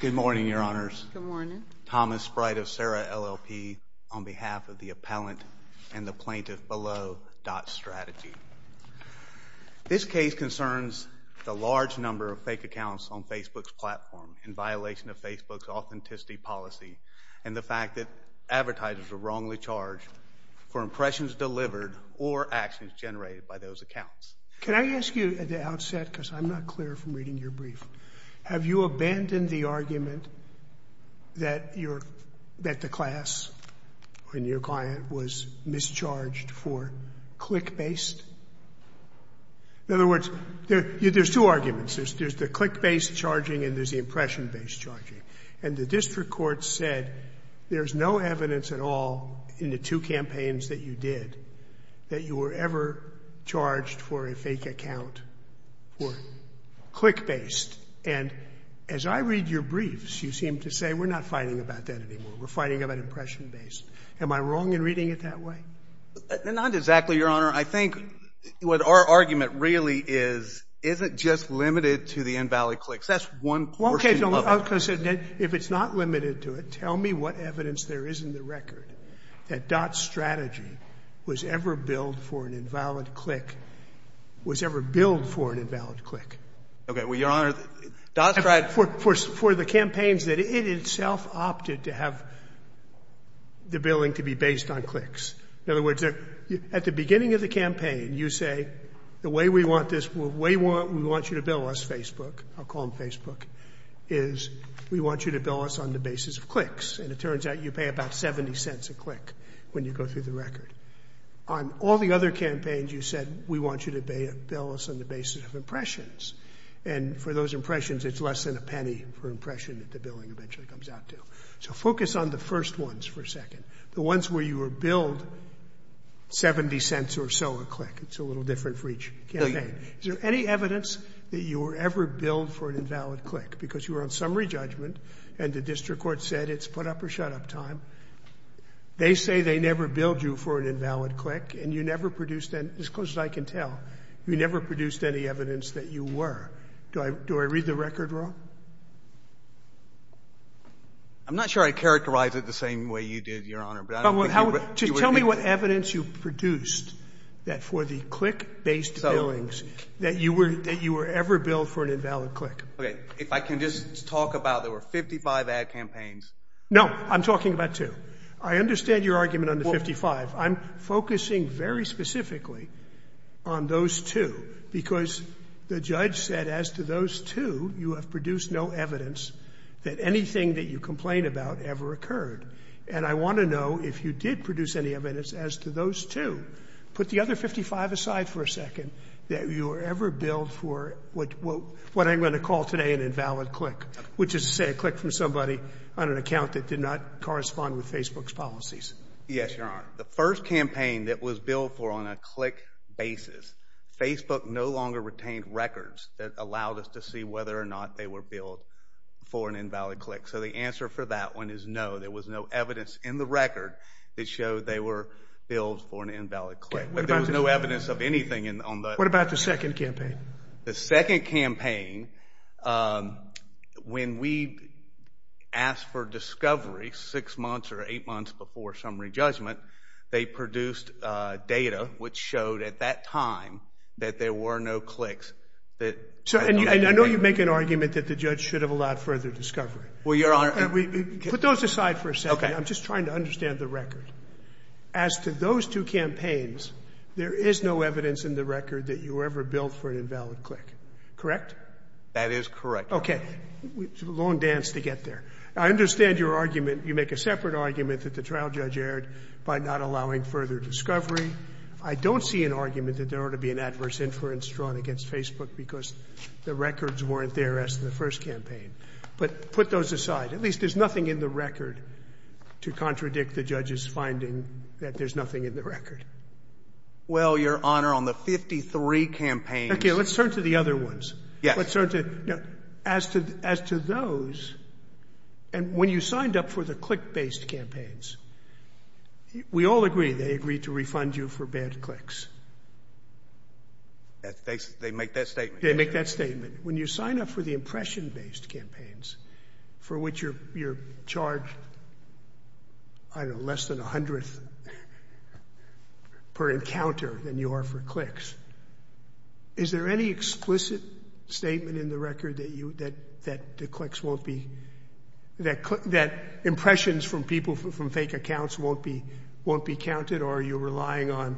Good morning, Your Honors. Good morning. Thomas Sprite of Sarah LLP on behalf of the Appellant and the Plaintiff below, .Strategy. This case concerns the large number of fake accounts on Facebook's platform in violation of Facebook's authenticity policy and the fact that advertisers are wrongly charged for impressions delivered or actions generated by those accounts. Can I ask you at the outset, because I'm not clear from reading your brief, have you abandoned the argument that the class and your client was mischarged for click-based? In other words, there's two arguments. There's the click-based charging and there's the impression-based charging. And the district court said there's no evidence at all in the two campaigns that you did that you were ever charged for a fake account for click-based. And as I read your briefs, you seem to say we're not fighting about that anymore. We're fighting about impression-based. Am I wrong in reading it that way? Not exactly, Your Honor. I think what our argument really is, is it just limited to the invalid clicks? That's one portion of it. Okay. Because if it's not limited to it, tell me what evidence there is in the record that .Strategy was ever billed for an invalid click, was ever billed for an invalid click. Okay. Well, Your Honor, .Strategy... For the campaigns that it itself opted to have the billing to be based on clicks. In other words, at the beginning of the campaign, you say, the way we want you to bill us, Facebook, I'll call them Facebook, is we want you to bill us on the basis of clicks. And it turns out you pay about 70 cents a click when you go through the record. On all the other campaigns, you said, we want you to bill us on the basis of impressions. And for those impressions, it's less than a penny per impression that the billing eventually comes out to. So focus on the first ones for a second. The ones where you were billed 70 cents or so a click. It's a little different for each campaign. Is there any evidence that you were ever billed for an invalid click? Because you were on summary judgment, and the district court said it's put up or shut up time. They say they never billed you for an invalid click, and you never produced, as close as I can tell, you never produced any evidence that you were. Do I read the record wrong? I'm not sure I characterized it the same way you did, Your Honor, but I don't think you were doing that. Tell me what evidence you produced that for the click-based billings that you were ever billed for an invalid click. Okay. If I can just talk about, there were 55 ad campaigns. No. I'm talking about two. I understand your argument on the 55. I'm focusing very specifically on those two, because the judge said as to those two, you have produced no evidence that anything that you complain about ever occurred. And I want to know if you did produce any evidence as to those two. Put the other 55 aside for a second, that you were ever billed for what I'm going to call today an invalid click, which is to say a click from somebody on an account that did not correspond with Facebook's policies. Yes, Your Honor. The first campaign that was billed for on a click basis, Facebook no longer retained records that allowed us to see whether or not they were billed for an invalid click. So the answer for that one is no. There was no evidence in the record that showed they were billed for an invalid click. But there was no evidence of anything on the... What about the second campaign? The second campaign, when we asked for discovery six months or eight months before summary judgment, they produced data which showed at that time that there were no clicks that... So, and I know you make an argument that the judge should have allowed further discovery. Well, Your Honor... Put those aside for a second. Okay. I'm just trying to understand the record. As to those two campaigns, there is no evidence in the record that you were ever billed for an invalid click. Correct? That is correct. Okay. It's a long dance to get there. I understand your argument. You make a separate argument that the trial judge erred by not allowing further discovery. I don't see an argument that there ought to be an adverse inference drawn against Facebook because the records weren't there as to the first campaign. But put those aside. At least there's nothing in the record to contradict the judge's finding that there's nothing in the record. Well, Your Honor, on the 53 campaigns... Okay. Let's turn to the other ones. Yes. Let's turn to... As to those, and when you signed up for the click-based campaigns, we all agree they agreed to refund you for bad clicks. They make that statement. They make that statement. When you sign up for the impression-based campaigns, for which you're charged, I don't know, less than a hundredth per encounter than you are for clicks. Is there any explicit statement in the record that the clicks won't be... That impressions from people from fake accounts won't be counted? Or are you relying on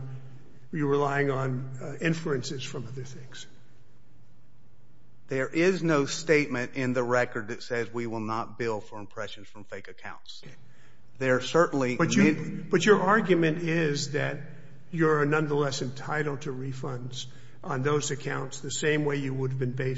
inferences from other things? There is no statement in the record that says we will not bill for impressions from fake accounts. There are certainly... But your argument is that you're nonetheless entitled to refunds on those accounts the same way you would have been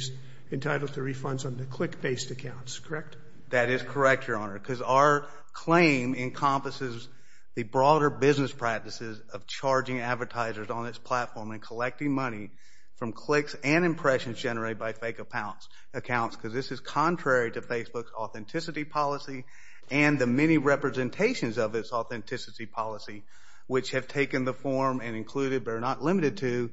entitled to refunds on the click-based accounts, correct? That is correct, Your Honor, because our claim encompasses the broader business practices of charging advertisers on its platform and collecting money from clicks and impressions generated by fake accounts, because this is contrary to Facebook's authenticity policy and the many representations of its authenticity policy, which have taken the form and included, but are not limited to,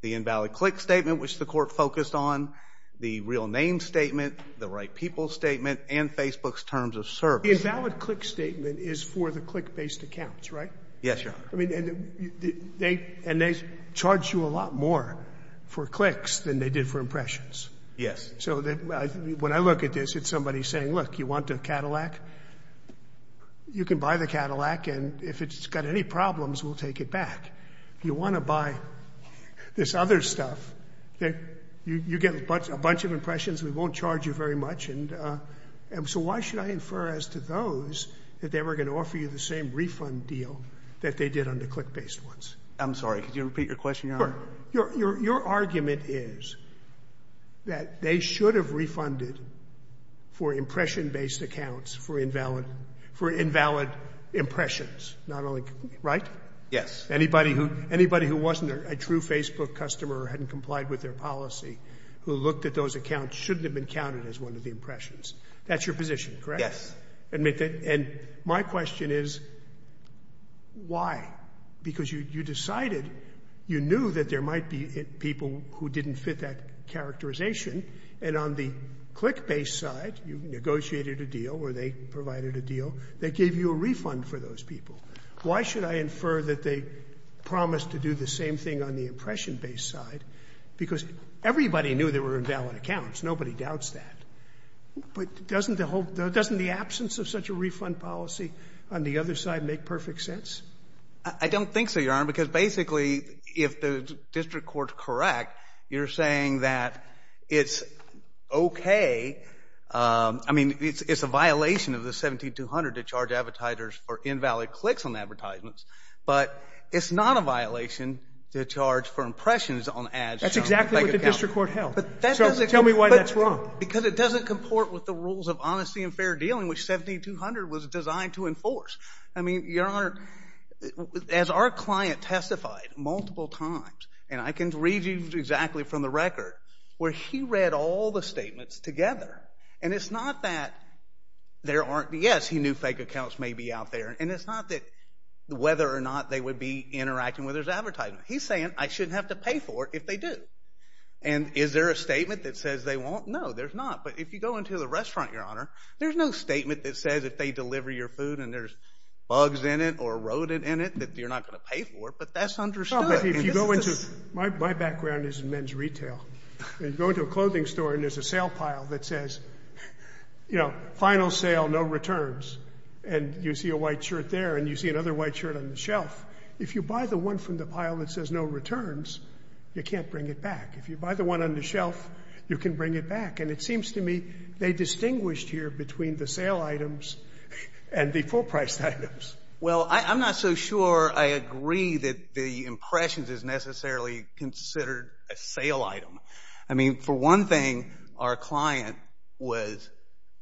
the invalid click statement, which the court focused on, the real name statement, the right people statement, and Facebook's terms of service. The invalid click statement is for the click-based accounts, right? Yes, Your Honor. I mean, and they charge you a lot more for clicks than they did for impressions. Yes. So when I look at this, it's somebody saying, look, you want a Cadillac? You can buy the Cadillac, and if it's got any problems, we'll take it back. You want to buy this other stuff, you get a bunch of impressions, we won't charge you very much, and so why should I infer as to those that they were going to offer you the same refund deal that they did on the click-based ones? I'm sorry. Could you repeat your question, Your Honor? Sure. Your argument is that they should have refunded for impression-based accounts for invalid — for invalid impressions, not only — right? Yes. Anybody who — anybody who wasn't a true Facebook customer or hadn't complied with their policy, who looked at those accounts, shouldn't have been counted as one of the impressions. That's your position, correct? Yes. And my question is, why? Because you decided — you knew that there might be people who didn't fit that characterization, and on the click-based side, you negotiated a deal or they provided a deal that gave you a refund for those people. Why should I infer that they promised to do the same thing on the impression-based side? Because everybody knew they were invalid accounts. Nobody doubts that. But doesn't the whole — doesn't the absence of such a refund policy on the other side make perfect sense? I don't think so, Your Honor, because basically, if the district court's correct, you're saying that it's okay — I mean, it's a violation of the 17-200 to charge advertisers for invalid clicks on advertisements, but it's not a violation to charge for impressions on ads from — That's exactly what the district court held. But that doesn't — So tell me why that's wrong. Because it doesn't comport with the rules of honesty and fair dealing, which 17-200 was designed to enforce. I mean, Your Honor, as our client testified multiple times — and I can read you exactly from the record — where he read all the statements together, and it's not that there aren't — yes, he knew fake accounts may be out there, and it's not that — whether or not they would be interacting with his advertisement. He's saying, I shouldn't have to pay for it if they do. And is there a statement that says they won't? No, there's not. But if you go into the restaurant, Your Honor, there's no statement that says if they deliver your food and there's bugs in it or a rodent in it that you're not going to pay for it. But that's understood. Well, but if you go into — my background is in men's retail. And you go into a clothing store, and there's a sale pile that says, you know, final sale, no returns. And you see a white shirt there, and you see another white shirt on the shelf. If you buy the one from the pile that says no returns, you can't bring it back. If you buy the one on the shelf, you can bring it back. And it seems to me they distinguished here between the sale items and the full-priced items. Well, I'm not so sure I agree that the impressions is necessarily considered a sale item. I mean, for one thing, our client was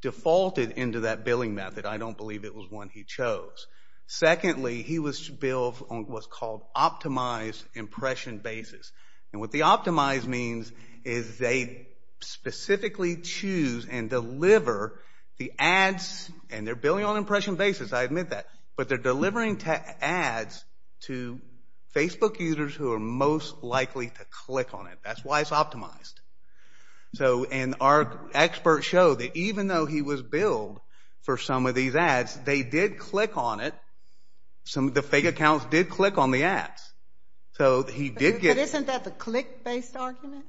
defaulted into that billing method. I don't believe it was one he chose. Secondly, he was billed on what's called optimized impression basis. And what the optimized means is they specifically choose and deliver the ads. And they're billing on impression basis, I admit that. But they're delivering ads to Facebook users who are most likely to click on it. That's why it's optimized. So and our experts show that even though he was billed for some of these ads, they did click on it. Some of the fake accounts did click on the ads. So he did get — But isn't that the click-based argument?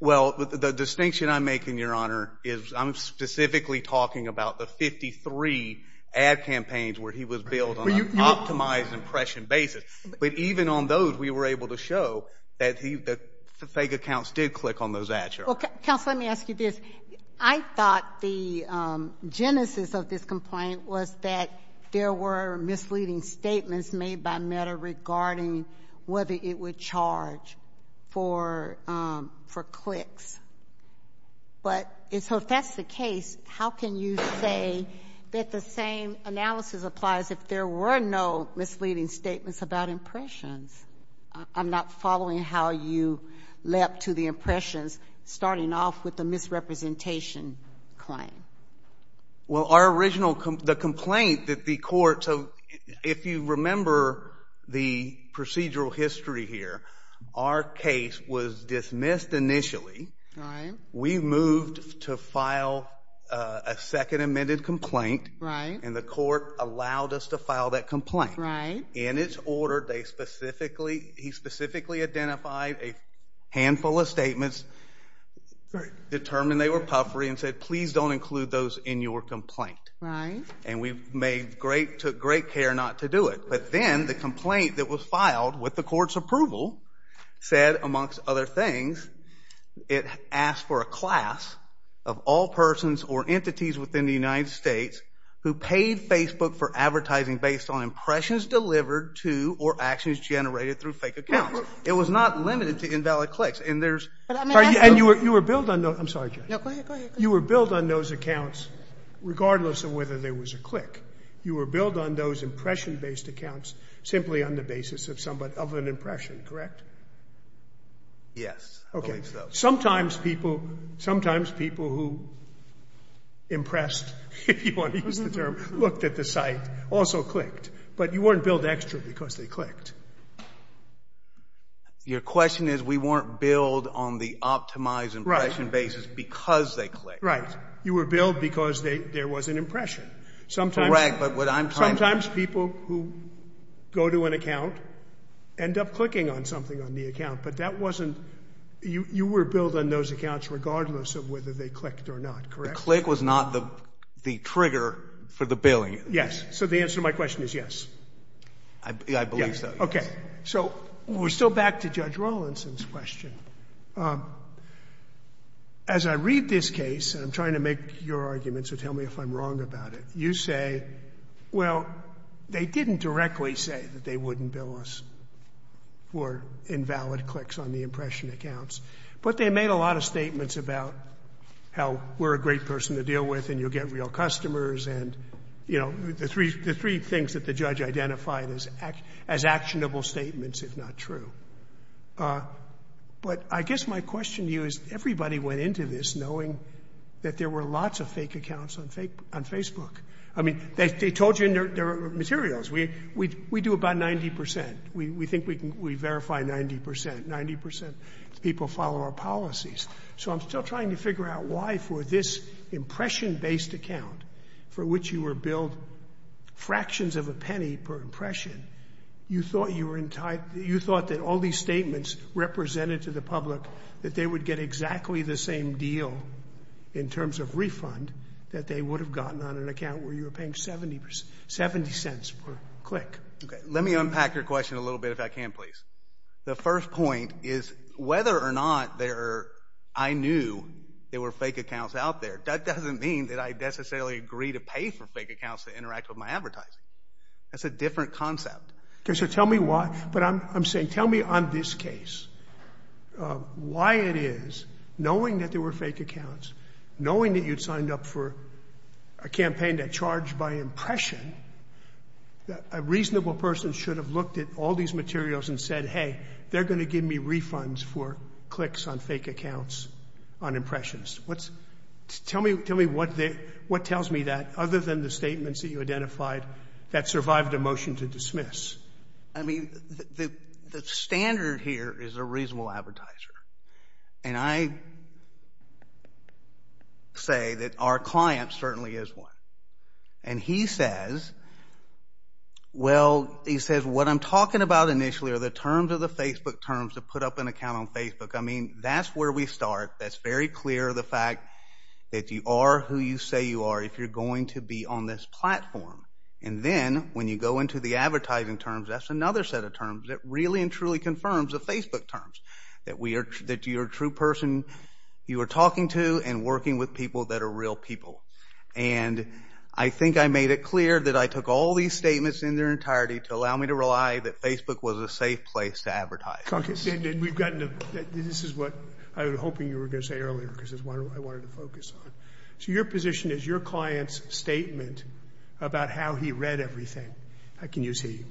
Well, the distinction I make, Your Honor, is I'm specifically talking about the 53 ad campaigns where he was billed on an optimized impression basis. But even on those, we were able to show that the fake accounts did click on those ads, Your Honor. Counsel, let me ask you this. I thought the genesis of this complaint was that there were misleading statements made by Meta regarding whether it would charge for clicks. But if that's the case, how can you say that the same analysis applies if there were no misleading statements about impressions? I'm not following how you led up to the impressions starting off with the misrepresentation claim. Well, our original — the complaint that the court — so if you remember the procedural history here, our case was dismissed initially. We moved to file a second amended complaint, and the court allowed us to file that complaint. In its order, they specifically — he specifically identified a handful of statements, determined they were puffery, and said, please don't include those in your complaint. Right. And we've made great — took great care not to do it. But then the complaint that was filed with the court's approval said, amongst other things, it asked for a class of all persons or entities within the United States who paid Facebook for advertising based on impressions delivered to or actions generated through fake accounts. It was not limited to invalid clicks. And there's — And you were billed on those — I'm sorry, Judge. You were billed on those accounts, regardless of whether there was a click. You were billed on those impression-based accounts simply on the basis of an impression, correct? Yes. I believe so. Okay. Sometimes people — sometimes people who impressed, if you want to use the term, looked at the site also clicked. But you weren't billed extra because they clicked. Your question is, we weren't billed on the optimized impression basis because they clicked. Right. You were billed because there was an impression. Correct. But what I'm trying to — Sometimes people who go to an account end up clicking on something on the account. But that wasn't — you were billed on those accounts regardless of whether they clicked or not, correct? The click was not the trigger for the billing. Yes. So the answer to my question is yes. I believe so. Okay. So we're still back to Judge Rawlinson's question. As I read this case — and I'm trying to make your argument, so tell me if I'm wrong about it — you say, well, they didn't directly say that they wouldn't bill us for invalid clicks on the impression accounts. But they made a lot of statements about how we're a great person to deal with and you'll get real customers and, you know, the three things that the judge identified as actionable statements, if not true. But I guess my question to you is, everybody went into this knowing that there were lots of fake accounts on Facebook. I mean, they told you in their materials. We do about 90 percent. We think we verify 90 percent. Ninety percent of people follow our policies. So I'm still trying to figure out why, for this impression-based account for which you were billed fractions of a penny per impression, you thought you were — you thought that all these statements represented to the public that they would get exactly the same deal in terms of refund that they would have gotten on an account where you were paying 70 cents per click. Okay. Let me unpack your question a little bit, if I can, please. The first point is whether or not there are — I knew there were fake accounts out there. That doesn't mean that I necessarily agree to pay for fake accounts to interact with my advertising. That's a different concept. Okay. So tell me why — but I'm saying, tell me on this case why it is, knowing that there were fake accounts, knowing that you'd signed up for a campaign that charged by impression, a reasonable person should have looked at all these materials and said, hey, they're going to give me refunds for clicks on fake accounts on impressions. What's — tell me — tell me what they — what tells me that, other than the statements that you identified, that survived a motion to dismiss? I mean, the standard here is a reasonable advertiser. And I say that our client certainly is one. And he says, well, he says, what I'm talking about initially are the terms of the Facebook terms to put up an account on Facebook. I mean, that's where we start. That's very clear, the fact that you are who you say you are if you're going to be on this platform. And then, when you go into the advertising terms, that's another set of terms that really and truly confirms the Facebook terms, that we are — that you're a true person, you are talking to and working with people that are real people. And I think I made it clear that I took all these statements in their entirety to allow me to rely that Facebook was a safe place to advertise. And we've gotten to — this is what I was hoping you were going to say earlier because this is what I wanted to focus on. So your position is your client's statement about how he read everything — I can use he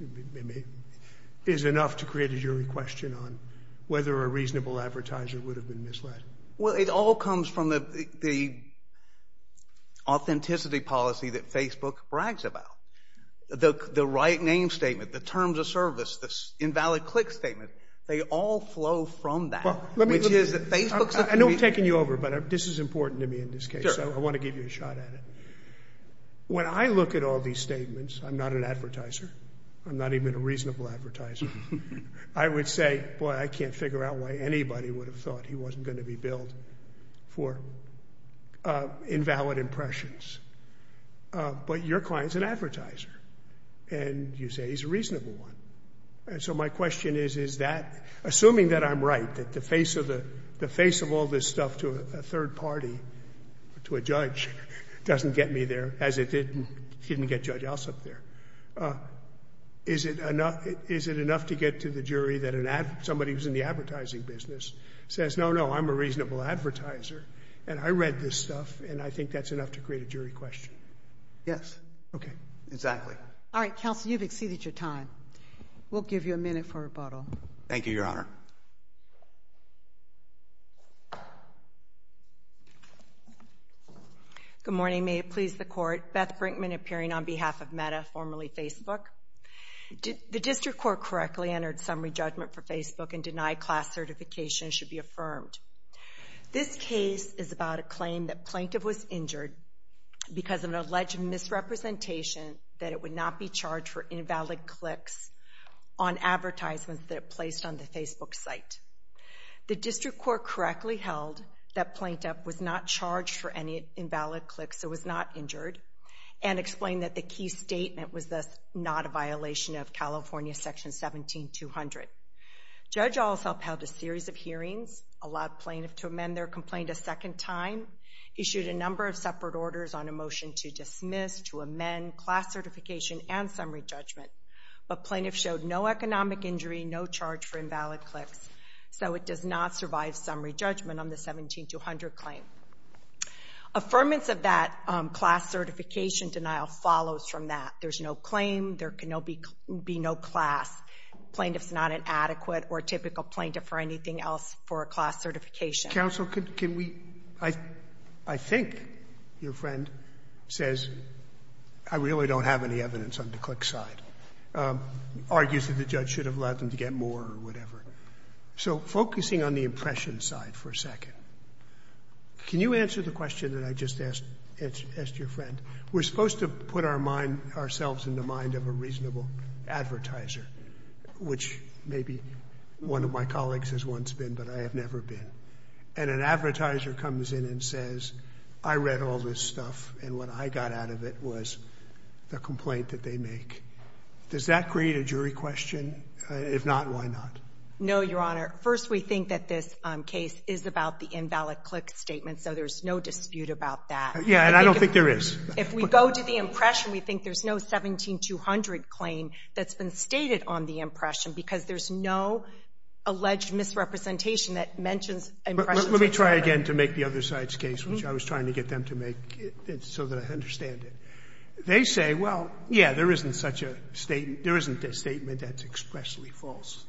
— is enough to create a jury question on whether a reasonable advertiser would have been misled? Well, it all comes from the authenticity policy that Facebook brags about. The right name statement, the terms of service, the invalid click statement, they all flow from that, which is that Facebook's — I know I'm taking you over, but this is important to me in this case. Sure. So I want to give you a shot at it. When I look at all these statements — I'm not an advertiser, I'm not even a reasonable advertiser — I would say, boy, I can't figure out why anybody would have thought he wasn't going to be billed for invalid impressions. But your client's an advertiser, and you say he's a reasonable one. And so my question is, is that — assuming that I'm right, that the face of all this stuff to a third party, to a judge, doesn't get me there, as it didn't get Judge Ossoff there, is it enough to get to the jury that somebody who's in the advertising business says, no, no, I'm a reasonable advertiser, and I read this stuff, and I think that's enough to create a jury question? Yes. Okay. Exactly. All right. Counsel, you've exceeded your time. We'll give you a minute for rebuttal. Thank you, Your Honor. Good morning. May it please the Court. Beth Brinkman appearing on behalf of Meta, formerly Facebook. The District Court correctly entered summary judgment for Facebook and denied class certification should be affirmed. This case is about a claim that plaintiff was injured because of an alleged misrepresentation that it would not be charged for invalid clicks on advertisements that it placed on the Facebook site. The District Court correctly held that plaintiff was not charged for any invalid clicks, so and explained that the key statement was thus not a violation of California Section 17200. Judge Ossoff held a series of hearings, allowed plaintiff to amend their complaint a second time, issued a number of separate orders on a motion to dismiss, to amend class certification and summary judgment, but plaintiff showed no economic injury, no charge for invalid clicks, so it does not survive summary judgment on the 17200 claim. Affirmance of that class certification denial follows from that. There's no claim. There can be no class. Plaintiff's not an adequate or typical plaintiff for anything else for a class certification. Counsel, can we – I think your friend says, I really don't have any evidence on the click side, argues that the judge should have allowed them to get more or whatever. So focusing on the impression side for a second, can you answer the question that I just asked your friend? We're supposed to put our mind – ourselves in the mind of a reasonable advertiser, which maybe one of my colleagues has once been, but I have never been. And an advertiser comes in and says, I read all this stuff, and what I got out of it was the complaint that they make. Does that create a jury question? If not, why not? No, Your Honor. First, we think that this case is about the invalid click statement, so there's no dispute about that. Yeah, and I don't think there is. If we go to the impression, we think there's no 17200 claim that's been stated on the impression because there's no alleged misrepresentation that mentions impressions. Let me try again to make the other side's case, which I was trying to get them to make so that I understand it. They say, well, yeah, there isn't a statement that's expressly false.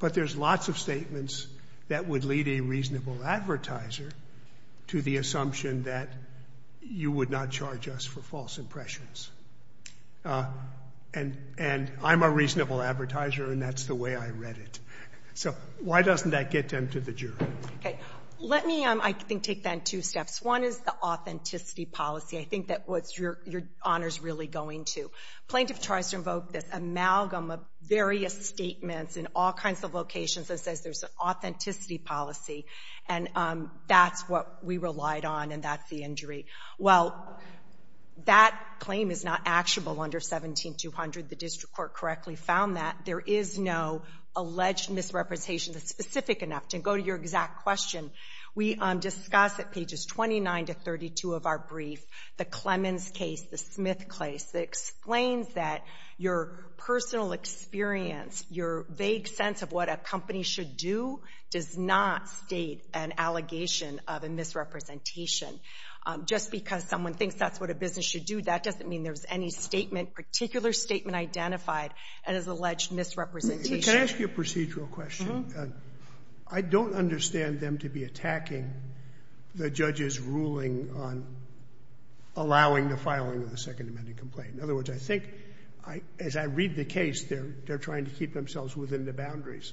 But there's lots of statements that would lead a reasonable advertiser to the assumption that you would not charge us for false impressions. And I'm a reasonable advertiser, and that's the way I read it. So why doesn't that get them to the jury? Okay. Let me, I think, take that in two steps. One is the authenticity policy. I think that's what Your Honor is really going to. Plaintiff tries to invoke this amalgam of various statements in all kinds of locations that says there's an authenticity policy. And that's what we relied on, and that's the injury. Well, that claim is not actionable under 17200. The district court correctly found that. There is no alleged misrepresentation that's specific enough. To go to your exact question, we discuss at pages 29 to 32 of our brief that the Clemens case, the Smith case, explains that your personal experience, your vague sense of what a company should do, does not state an allegation of a misrepresentation. Just because someone thinks that's what a business should do, that doesn't mean there's any statement, particular statement, identified as alleged misrepresentation. Can I ask you a procedural question? Uh-huh. I don't understand them to be attacking the judge's ruling on allowing the filing of the second amended complaint. In other words, I think, as I read the case, they're trying to keep themselves within the boundaries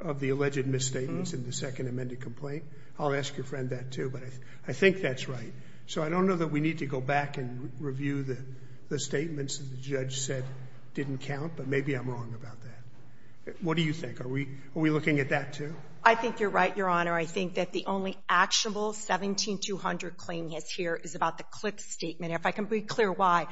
of the alleged misstatements in the second amended complaint. I'll ask your friend that, too, but I think that's right. So I don't know that we need to go back and review the statements that the judge said didn't count, but maybe I'm wrong about that. What do you think? Are we looking at that, too? I think you're right, Your Honor. I think that the only actionable 17200 claim here is about the Cliffs statement, if I can be clear why.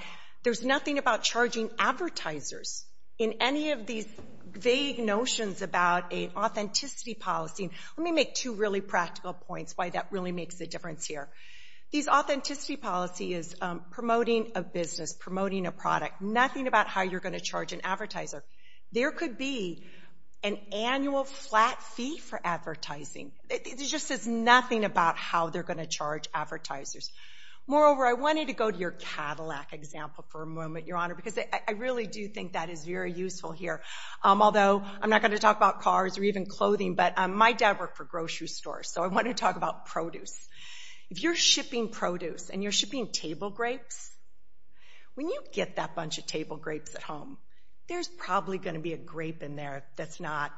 There's nothing about charging advertisers in any of these vague notions about an authenticity policy. Let me make two really practical points why that really makes a difference here. These authenticity policies, promoting a business, promoting a product, nothing about how you're going to charge an advertiser. There could be an annual flat fee for advertising. It just says nothing about how they're going to charge advertisers. Moreover, I wanted to go to your Cadillac example for a moment, Your Honor, because I really do think that is very useful here, although I'm not going to talk about cars or even clothing, but my dad worked for a grocery store, so I want to talk about produce. If you're shipping produce and you're shipping table grapes, when you get that bunch of table grapes at home, there's probably going to be a grape in there that's not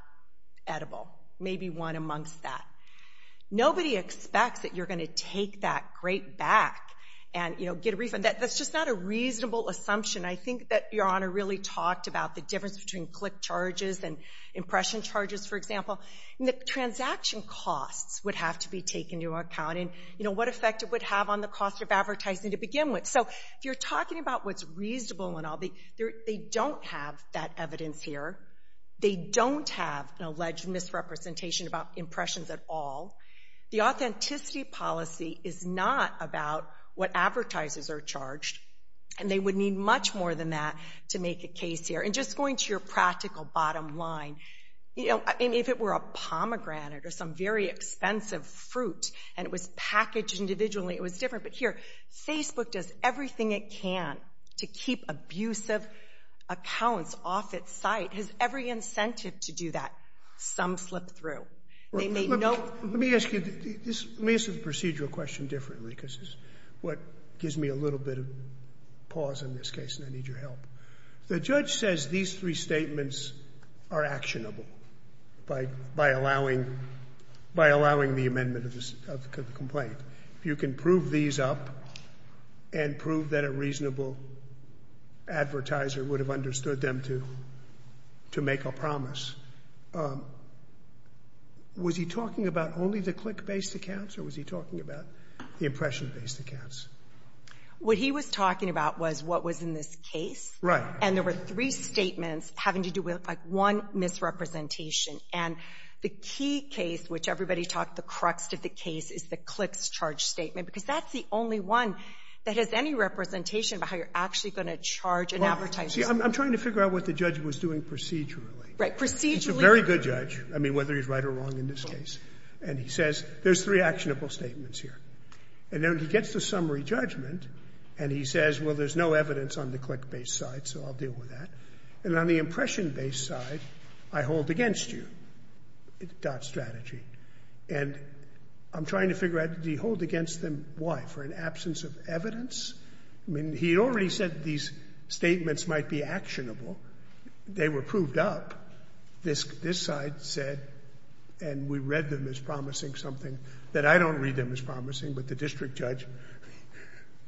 edible, maybe one amongst that. Nobody expects that you're going to take that grape back and get a refund. That's just not a reasonable assumption. I think that Your Honor really talked about the difference between click charges and impression charges, for example. The transaction costs would have to be taken into account and what effect it would have on the cost of advertising to begin with. If you're talking about what's reasonable and all, they don't have that evidence here. They don't have an alleged misrepresentation about impressions at all. The authenticity policy is not about what advertisers are charged, and they would need much more than that to make a case here. Just going to your practical bottom line, if it were a pomegranate or some very expensive fruit and it was packaged individually, it was different. But here, Facebook does everything it can to keep abusive accounts off its site. It has every incentive to do that. Some slip through. They make no ---- Let me ask you this. Let me ask you the procedural question differently because it's what gives me a little bit of pause in this case, and I need your help. The judge says these three statements are actionable by allowing the amendment of the complaint. If you can prove these up and prove that a reasonable advertiser would have understood them to make a promise, was he talking about only the click-based accounts or was he talking about the impression-based accounts? What he was talking about was what was in this case. Right. And there were three statements having to do with, like, one misrepresentation. And the key case, which everybody talked the crux of the case, is the clicks charge statement because that's the only one that has any representation about how you're actually going to charge an advertiser. Well, see, I'm trying to figure out what the judge was doing procedurally. Right. Procedurally. He's a very good judge, I mean, whether he's right or wrong in this case. And he says there's three actionable statements here. And then he gets the summary judgment and he says, well, there's no evidence on the click-based side, so I'll deal with that. And on the impression-based side, I hold against you, dot strategy. And I'm trying to figure out, did he hold against them, why, for an absence of evidence? I mean, he already said these statements might be actionable. They were proved up. This side said, and we read them as promising something that I don't read them as promising, but the district judge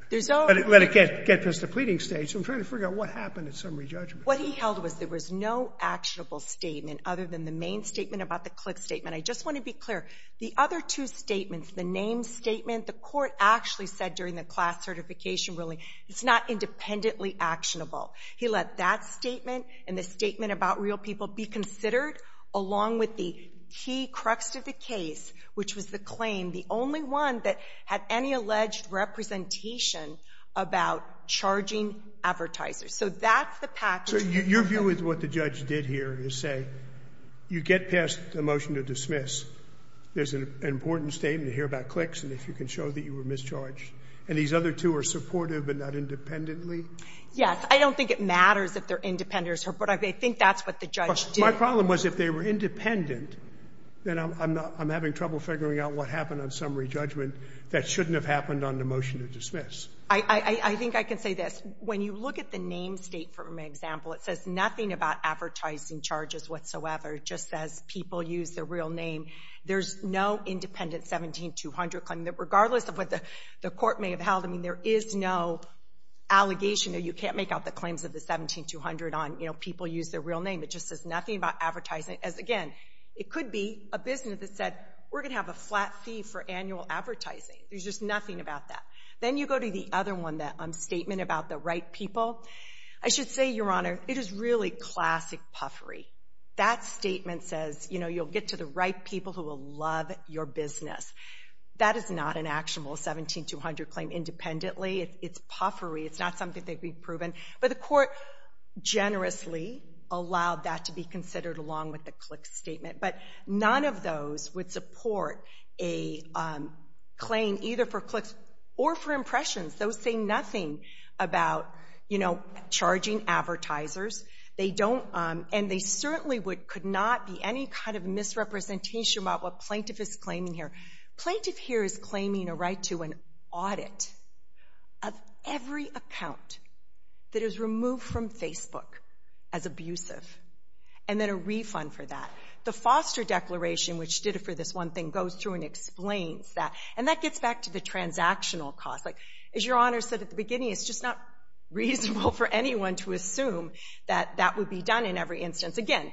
let it get past the pleading stage. So I'm trying to figure out what happened at summary judgment. What he held was there was no actionable statement other than the main statement about the click statement. I just want to be clear. The other two statements, the name statement, the court actually said during the class certification ruling, it's not independently actionable. He let that statement and the statement about real people be considered along with the key crux of the case, which was the claim, the only one that had any advertisers. So that's the package. So your view is what the judge did here is say, you get past the motion to dismiss. There's an important statement here about clicks, and if you can show that you were mischarged. And these other two are supportive but not independently? Yes. I don't think it matters if they're independent or not, but I think that's what the judge did. My problem was if they were independent, then I'm having trouble figuring out what happened on summary judgment that shouldn't have happened on the motion to dismiss. I think I can say this. When you look at the name state, for example, it says nothing about advertising charges whatsoever. It just says people use their real name. There's no independent 17-200 claim. Regardless of what the court may have held, I mean, there is no allegation that you can't make out the claims of the 17-200 on, you know, people use their real name. It just says nothing about advertising. As, again, it could be a business that said, we're going to have a flat fee for annual advertising. There's just nothing about that. Then you go to the other one, that statement about the right people. I should say, Your Honor, it is really classic puffery. That statement says, you know, you'll get to the right people who will love your business. That is not an actionable 17-200 claim independently. It's puffery. It's not something that could be proven. But the court generously allowed that to be considered along with the Clicks statement. But none of those would support a claim either for Clicks or for Impressions. Those say nothing about, you know, charging advertisers. They don't, and they certainly could not be any kind of misrepresentation about what plaintiff is claiming here. Plaintiff here is claiming a right to an audit of every account that is removed from Facebook as abusive and then a refund for that. The Foster Declaration, which did it for this one thing, goes through and explains that. And that gets back to the transactional cost. Like, as Your Honor said at the beginning, it's just not reasonable for anyone to assume that that would be done in every instance. Again,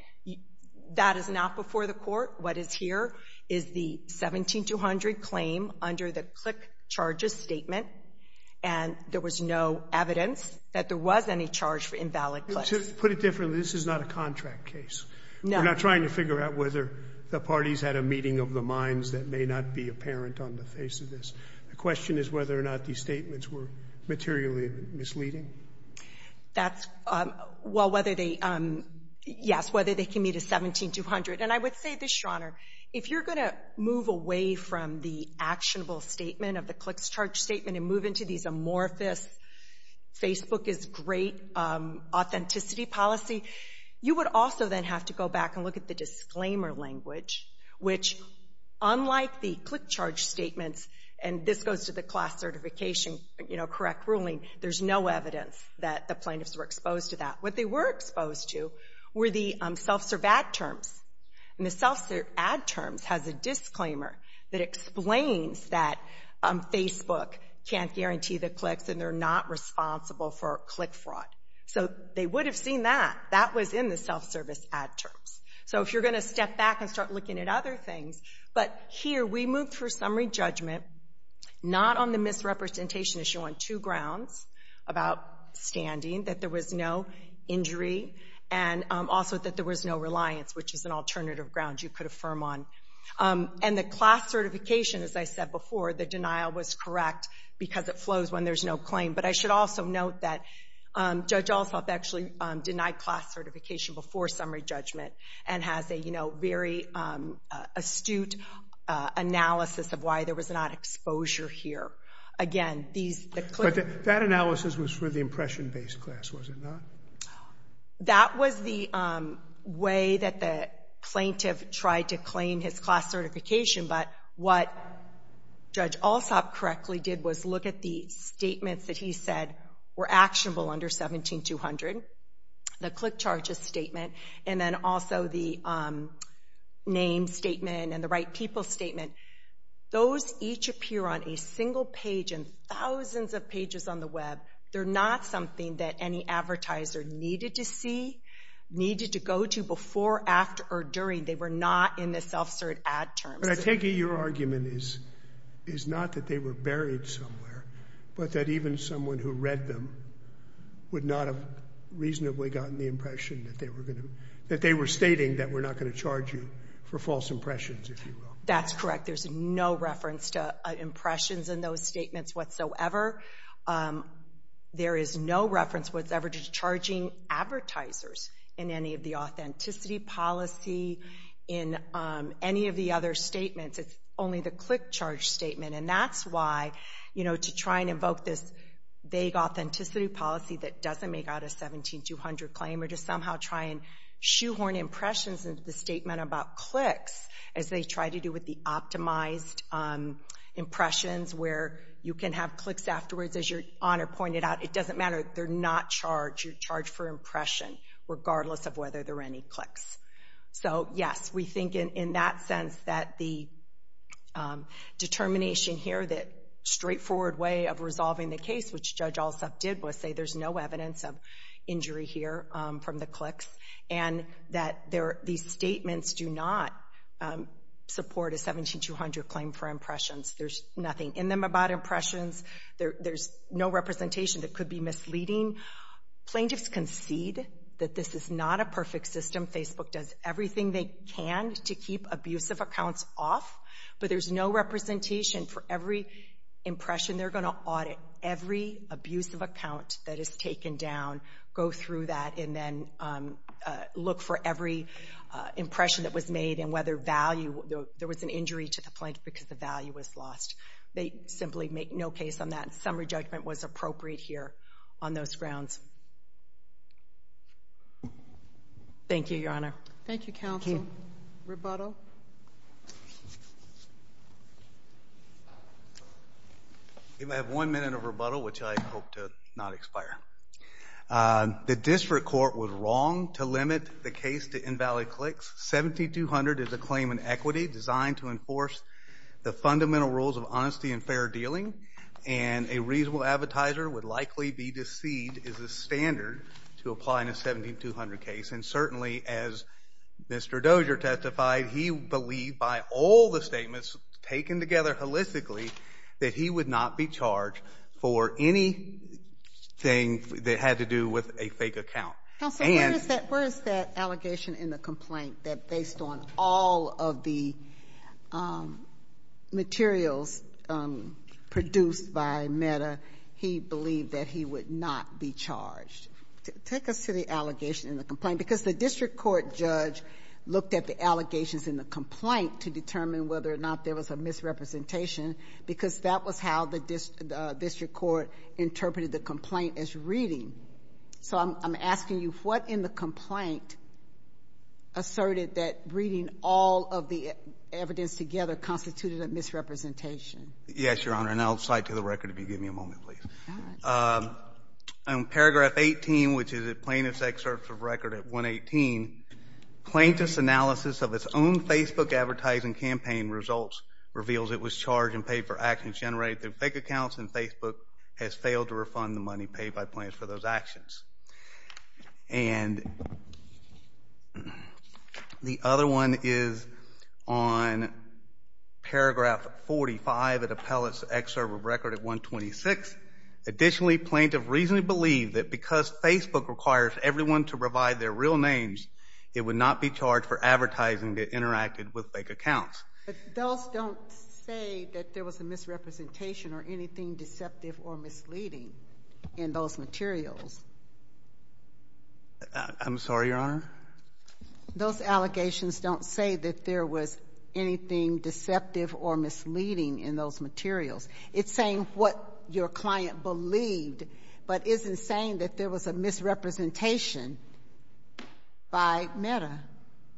that is not before the court. What is here is the 17-200 claim under the Click charges statement, and there was no evidence that there was any charge for invalid clicks. To put it differently, this is not a contract case. No. We're not trying to figure out whether the parties had a meeting of the minds that may not be apparent on the face of this. The question is whether or not these statements were materially misleading. That's, well, whether they, yes, whether they can meet a 17-200. And I would say this, Your Honor, if you're going to move away from the actionable statement of the Clicks charge statement and move into these amorphous Facebook is great authenticity policy, you would also then have to go back and look at the disclaimer language, which, unlike the Click charge statements, and this goes to the class certification, you know, correct ruling, there's no evidence that the plaintiffs were exposed to that. What they were exposed to were the self-serve ad terms. And the self-serve ad terms has a disclaimer that explains that Facebook can't guarantee the clicks and they're not responsible for click fraud. So they would have seen that. That was in the self-service ad terms. So if you're going to step back and start looking at other things, but here we moved for summary judgment not on the misrepresentation issue on two grounds about standing, that there was no injury, and also that there was no reliance, which is an alternative ground you could affirm on. And the class certification, as I said before, the denial was correct because it flows when there's no claim. But I should also note that Judge Allsop actually denied class certification before summary judgment and has a, you know, very astute analysis of why there was not exposure here. Again, these, the click. But that analysis was for the impression-based class, was it not? That was the way that the plaintiff tried to claim his class certification, but what Judge Allsop correctly did was look at the statements that he said were actionable under 17-200, the click charges statement, and then also the name statement and the right people statement. Those each appear on a single page and thousands of pages on the web. They're not something that any advertiser needed to see, needed to go to before, after, or during. They were not in the self-cert ad terms. But I take it your argument is not that they were buried somewhere, but that even someone who read them would not have reasonably gotten the impression that they were stating that we're not going to charge you for false impressions, if you will. That's correct. There's no reference to impressions in those statements whatsoever. There is no reference whatsoever to charging advertisers in any of the authenticity policy in any of the other statements. It's only the click charge statement. And that's why, you know, to try and invoke this vague authenticity policy that doesn't make out a 17-200 claim or to somehow try and shoehorn impressions into the statement about clicks as they try to do with the optimized impressions where you can have clicks afterwards, as your honor pointed out. It doesn't matter. They're not charged. You're charged for impression, regardless of whether there are any clicks. So, yes, we think in that sense that the determination here, the straightforward way of resolving the case, which Judge Alsop did was say there's no evidence of injury here from the clicks, and that these statements do not support a 17-200 claim for impressions. There's nothing in them about impressions. There's no representation that could be misleading. Plaintiffs concede that this is not a perfect system. Facebook does everything they can to keep abusive accounts off, but there's no representation for every impression they're going to audit. Every abusive account that is taken down, go through that and then look for every impression that was made and whether there was an injury to the plaintiff because the value was lost. They simply make no case on that. Summary judgment was appropriate here on those grounds. Thank you, your honor. Thank you, counsel. Rebuttal. Rebuttal. We have one minute of rebuttal, which I hope to not expire. The district court was wrong to limit the case to invalid clicks. 17-200 is a claim in equity designed to enforce the fundamental rules of honesty and fair dealing, and a reasonable advertiser would likely be deceived as a standard to apply in a 17-200 case. And certainly, as Mr. Dozier testified, he believed by all the statements taken together holistically that he would not be charged for anything that had to do with a fake account. Counsel, where is that allegation in the complaint that based on all of the materials produced by Meta, he believed that he would not be charged? Take us to the allegation in the complaint. Because the district court judge looked at the allegations in the complaint to determine whether or not there was a misrepresentation, because that was how the district court interpreted the complaint as reading. So I'm asking you, what in the complaint asserted that reading all of the evidence together constituted a misrepresentation? Yes, your honor. And I'll cite to the record if you give me a moment, please. All right. In paragraph 18, which is a plaintiff's excerpt of record at 118, plaintiff's analysis of its own Facebook advertising campaign results reveals it was charged and paid for actions generated through fake accounts, and Facebook has failed to refund the money paid by plaintiffs for those actions. And the other one is on paragraph 45 of the appellate's excerpt of record at 126. Additionally, plaintiff reasonably believed that because Facebook requires everyone to provide their real names, it would not be charged for advertising that interacted with fake accounts. But those don't say that there was a misrepresentation or anything deceptive or misleading in those materials. I'm sorry, your honor? Those allegations don't say that there was anything deceptive or misleading in those materials. It's saying what your client believed, but isn't saying that there was a misrepresentation by Meta.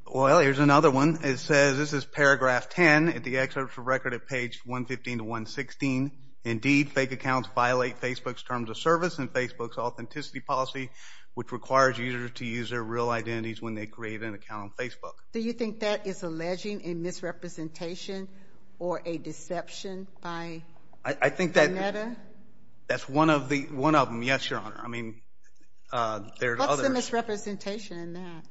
Well, here's another one. It says, this is paragraph 10 of the excerpt of record at page 115 to 116. Indeed, fake accounts violate Facebook's terms of service and Facebook's authenticity policy, which requires users to use their real identities when they create an account on Facebook. Do you think that is alleging a misrepresentation or a deception by Meta? That's one of them, yes, your honor. What's the misrepresentation in that?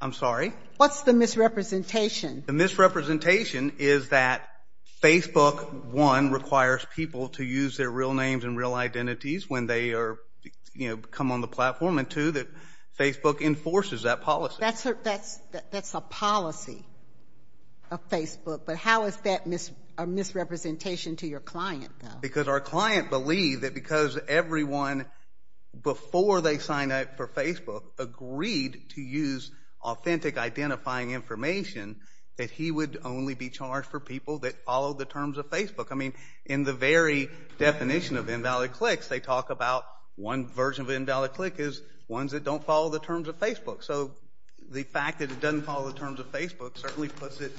I'm sorry? What's the misrepresentation? The misrepresentation is that Facebook, one, requires people to use their real names and real identities when they come on the platform, and two, that Facebook enforces that policy. That's a policy of Facebook. But how is that a misrepresentation to your client, though? Because our client believed that because everyone, before they signed up for Facebook, agreed to use authentic identifying information, that he would only be charged for people that follow the terms of Facebook. I mean, in the very definition of invalid clicks, they talk about one version of invalid click is ones that don't follow the terms of Facebook. So the fact that it doesn't follow the terms of Facebook certainly puts it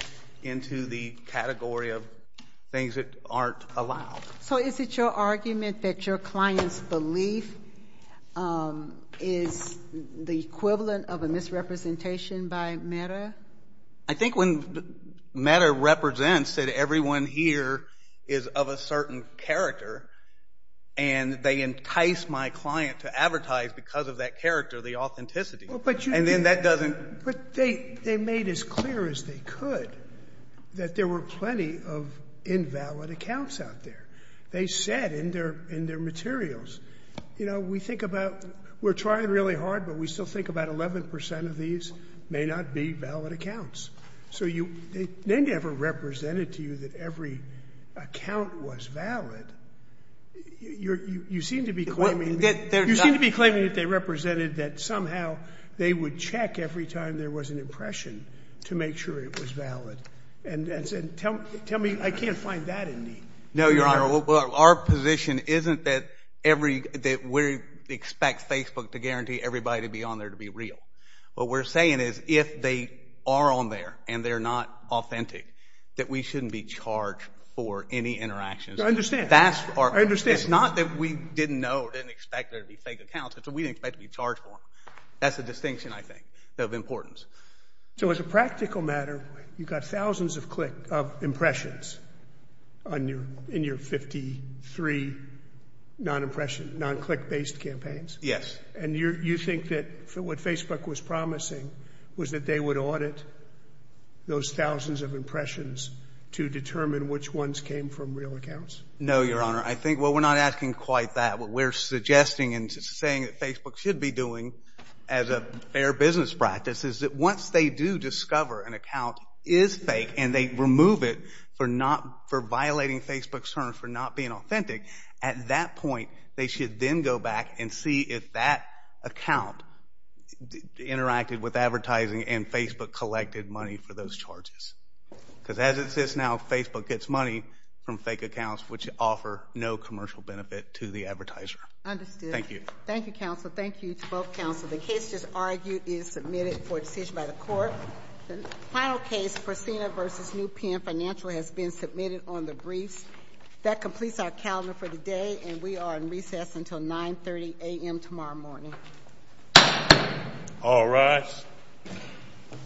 into the category of things that aren't allowed. So is it your argument that your client's belief is the equivalent of a misrepresentation by Meta? I think when Meta represents that everyone here is of a certain character and they entice my client to advertise because of that character, the authenticity, and then that doesn't — But they made as clear as they could that there were plenty of invalid accounts out there. They said in their materials, you know, we think about — we're trying really hard, but we still think about 11 percent of these may not be valid accounts. So they never represented to you that every account was valid. You seem to be claiming that they represented that somehow they would check every time there was an impression to make sure it was valid. And tell me, I can't find that in me. No, Your Honor. Our position isn't that we expect Facebook to guarantee everybody to be on there to be real. What we're saying is if they are on there and they're not authentic, that we shouldn't be charged for any interactions. I understand. It's not that we didn't know or didn't expect there to be fake accounts. It's that we didn't expect to be charged for them. That's the distinction, I think, of importance. So as a practical matter, you got thousands of impressions in your 53 non-impression, non-click-based campaigns. Yes. And you think that what Facebook was promising was that they would audit those thousands of impressions to determine which ones came from real accounts? No, Your Honor. I think, well, we're not asking quite that. What we're suggesting and saying that Facebook should be doing as a fair business practice is that once they do discover an account is fake and they remove it for violating Facebook's terms for not being authentic, at that point they should then go back and see if that account interacted with advertising and Facebook collected money for those charges. Because as it sits now, Facebook gets money from fake accounts which offer no commercial benefit to the advertiser. Understood. Thank you. Thank you, counsel. Thank you to both counsel. The case just argued is submitted for decision by the court. The final case, Priscilla v. New Penn Financial, has been submitted on the briefs. That completes our calendar for the day, and we are in recess until 9.30 a.m. tomorrow morning. All rise.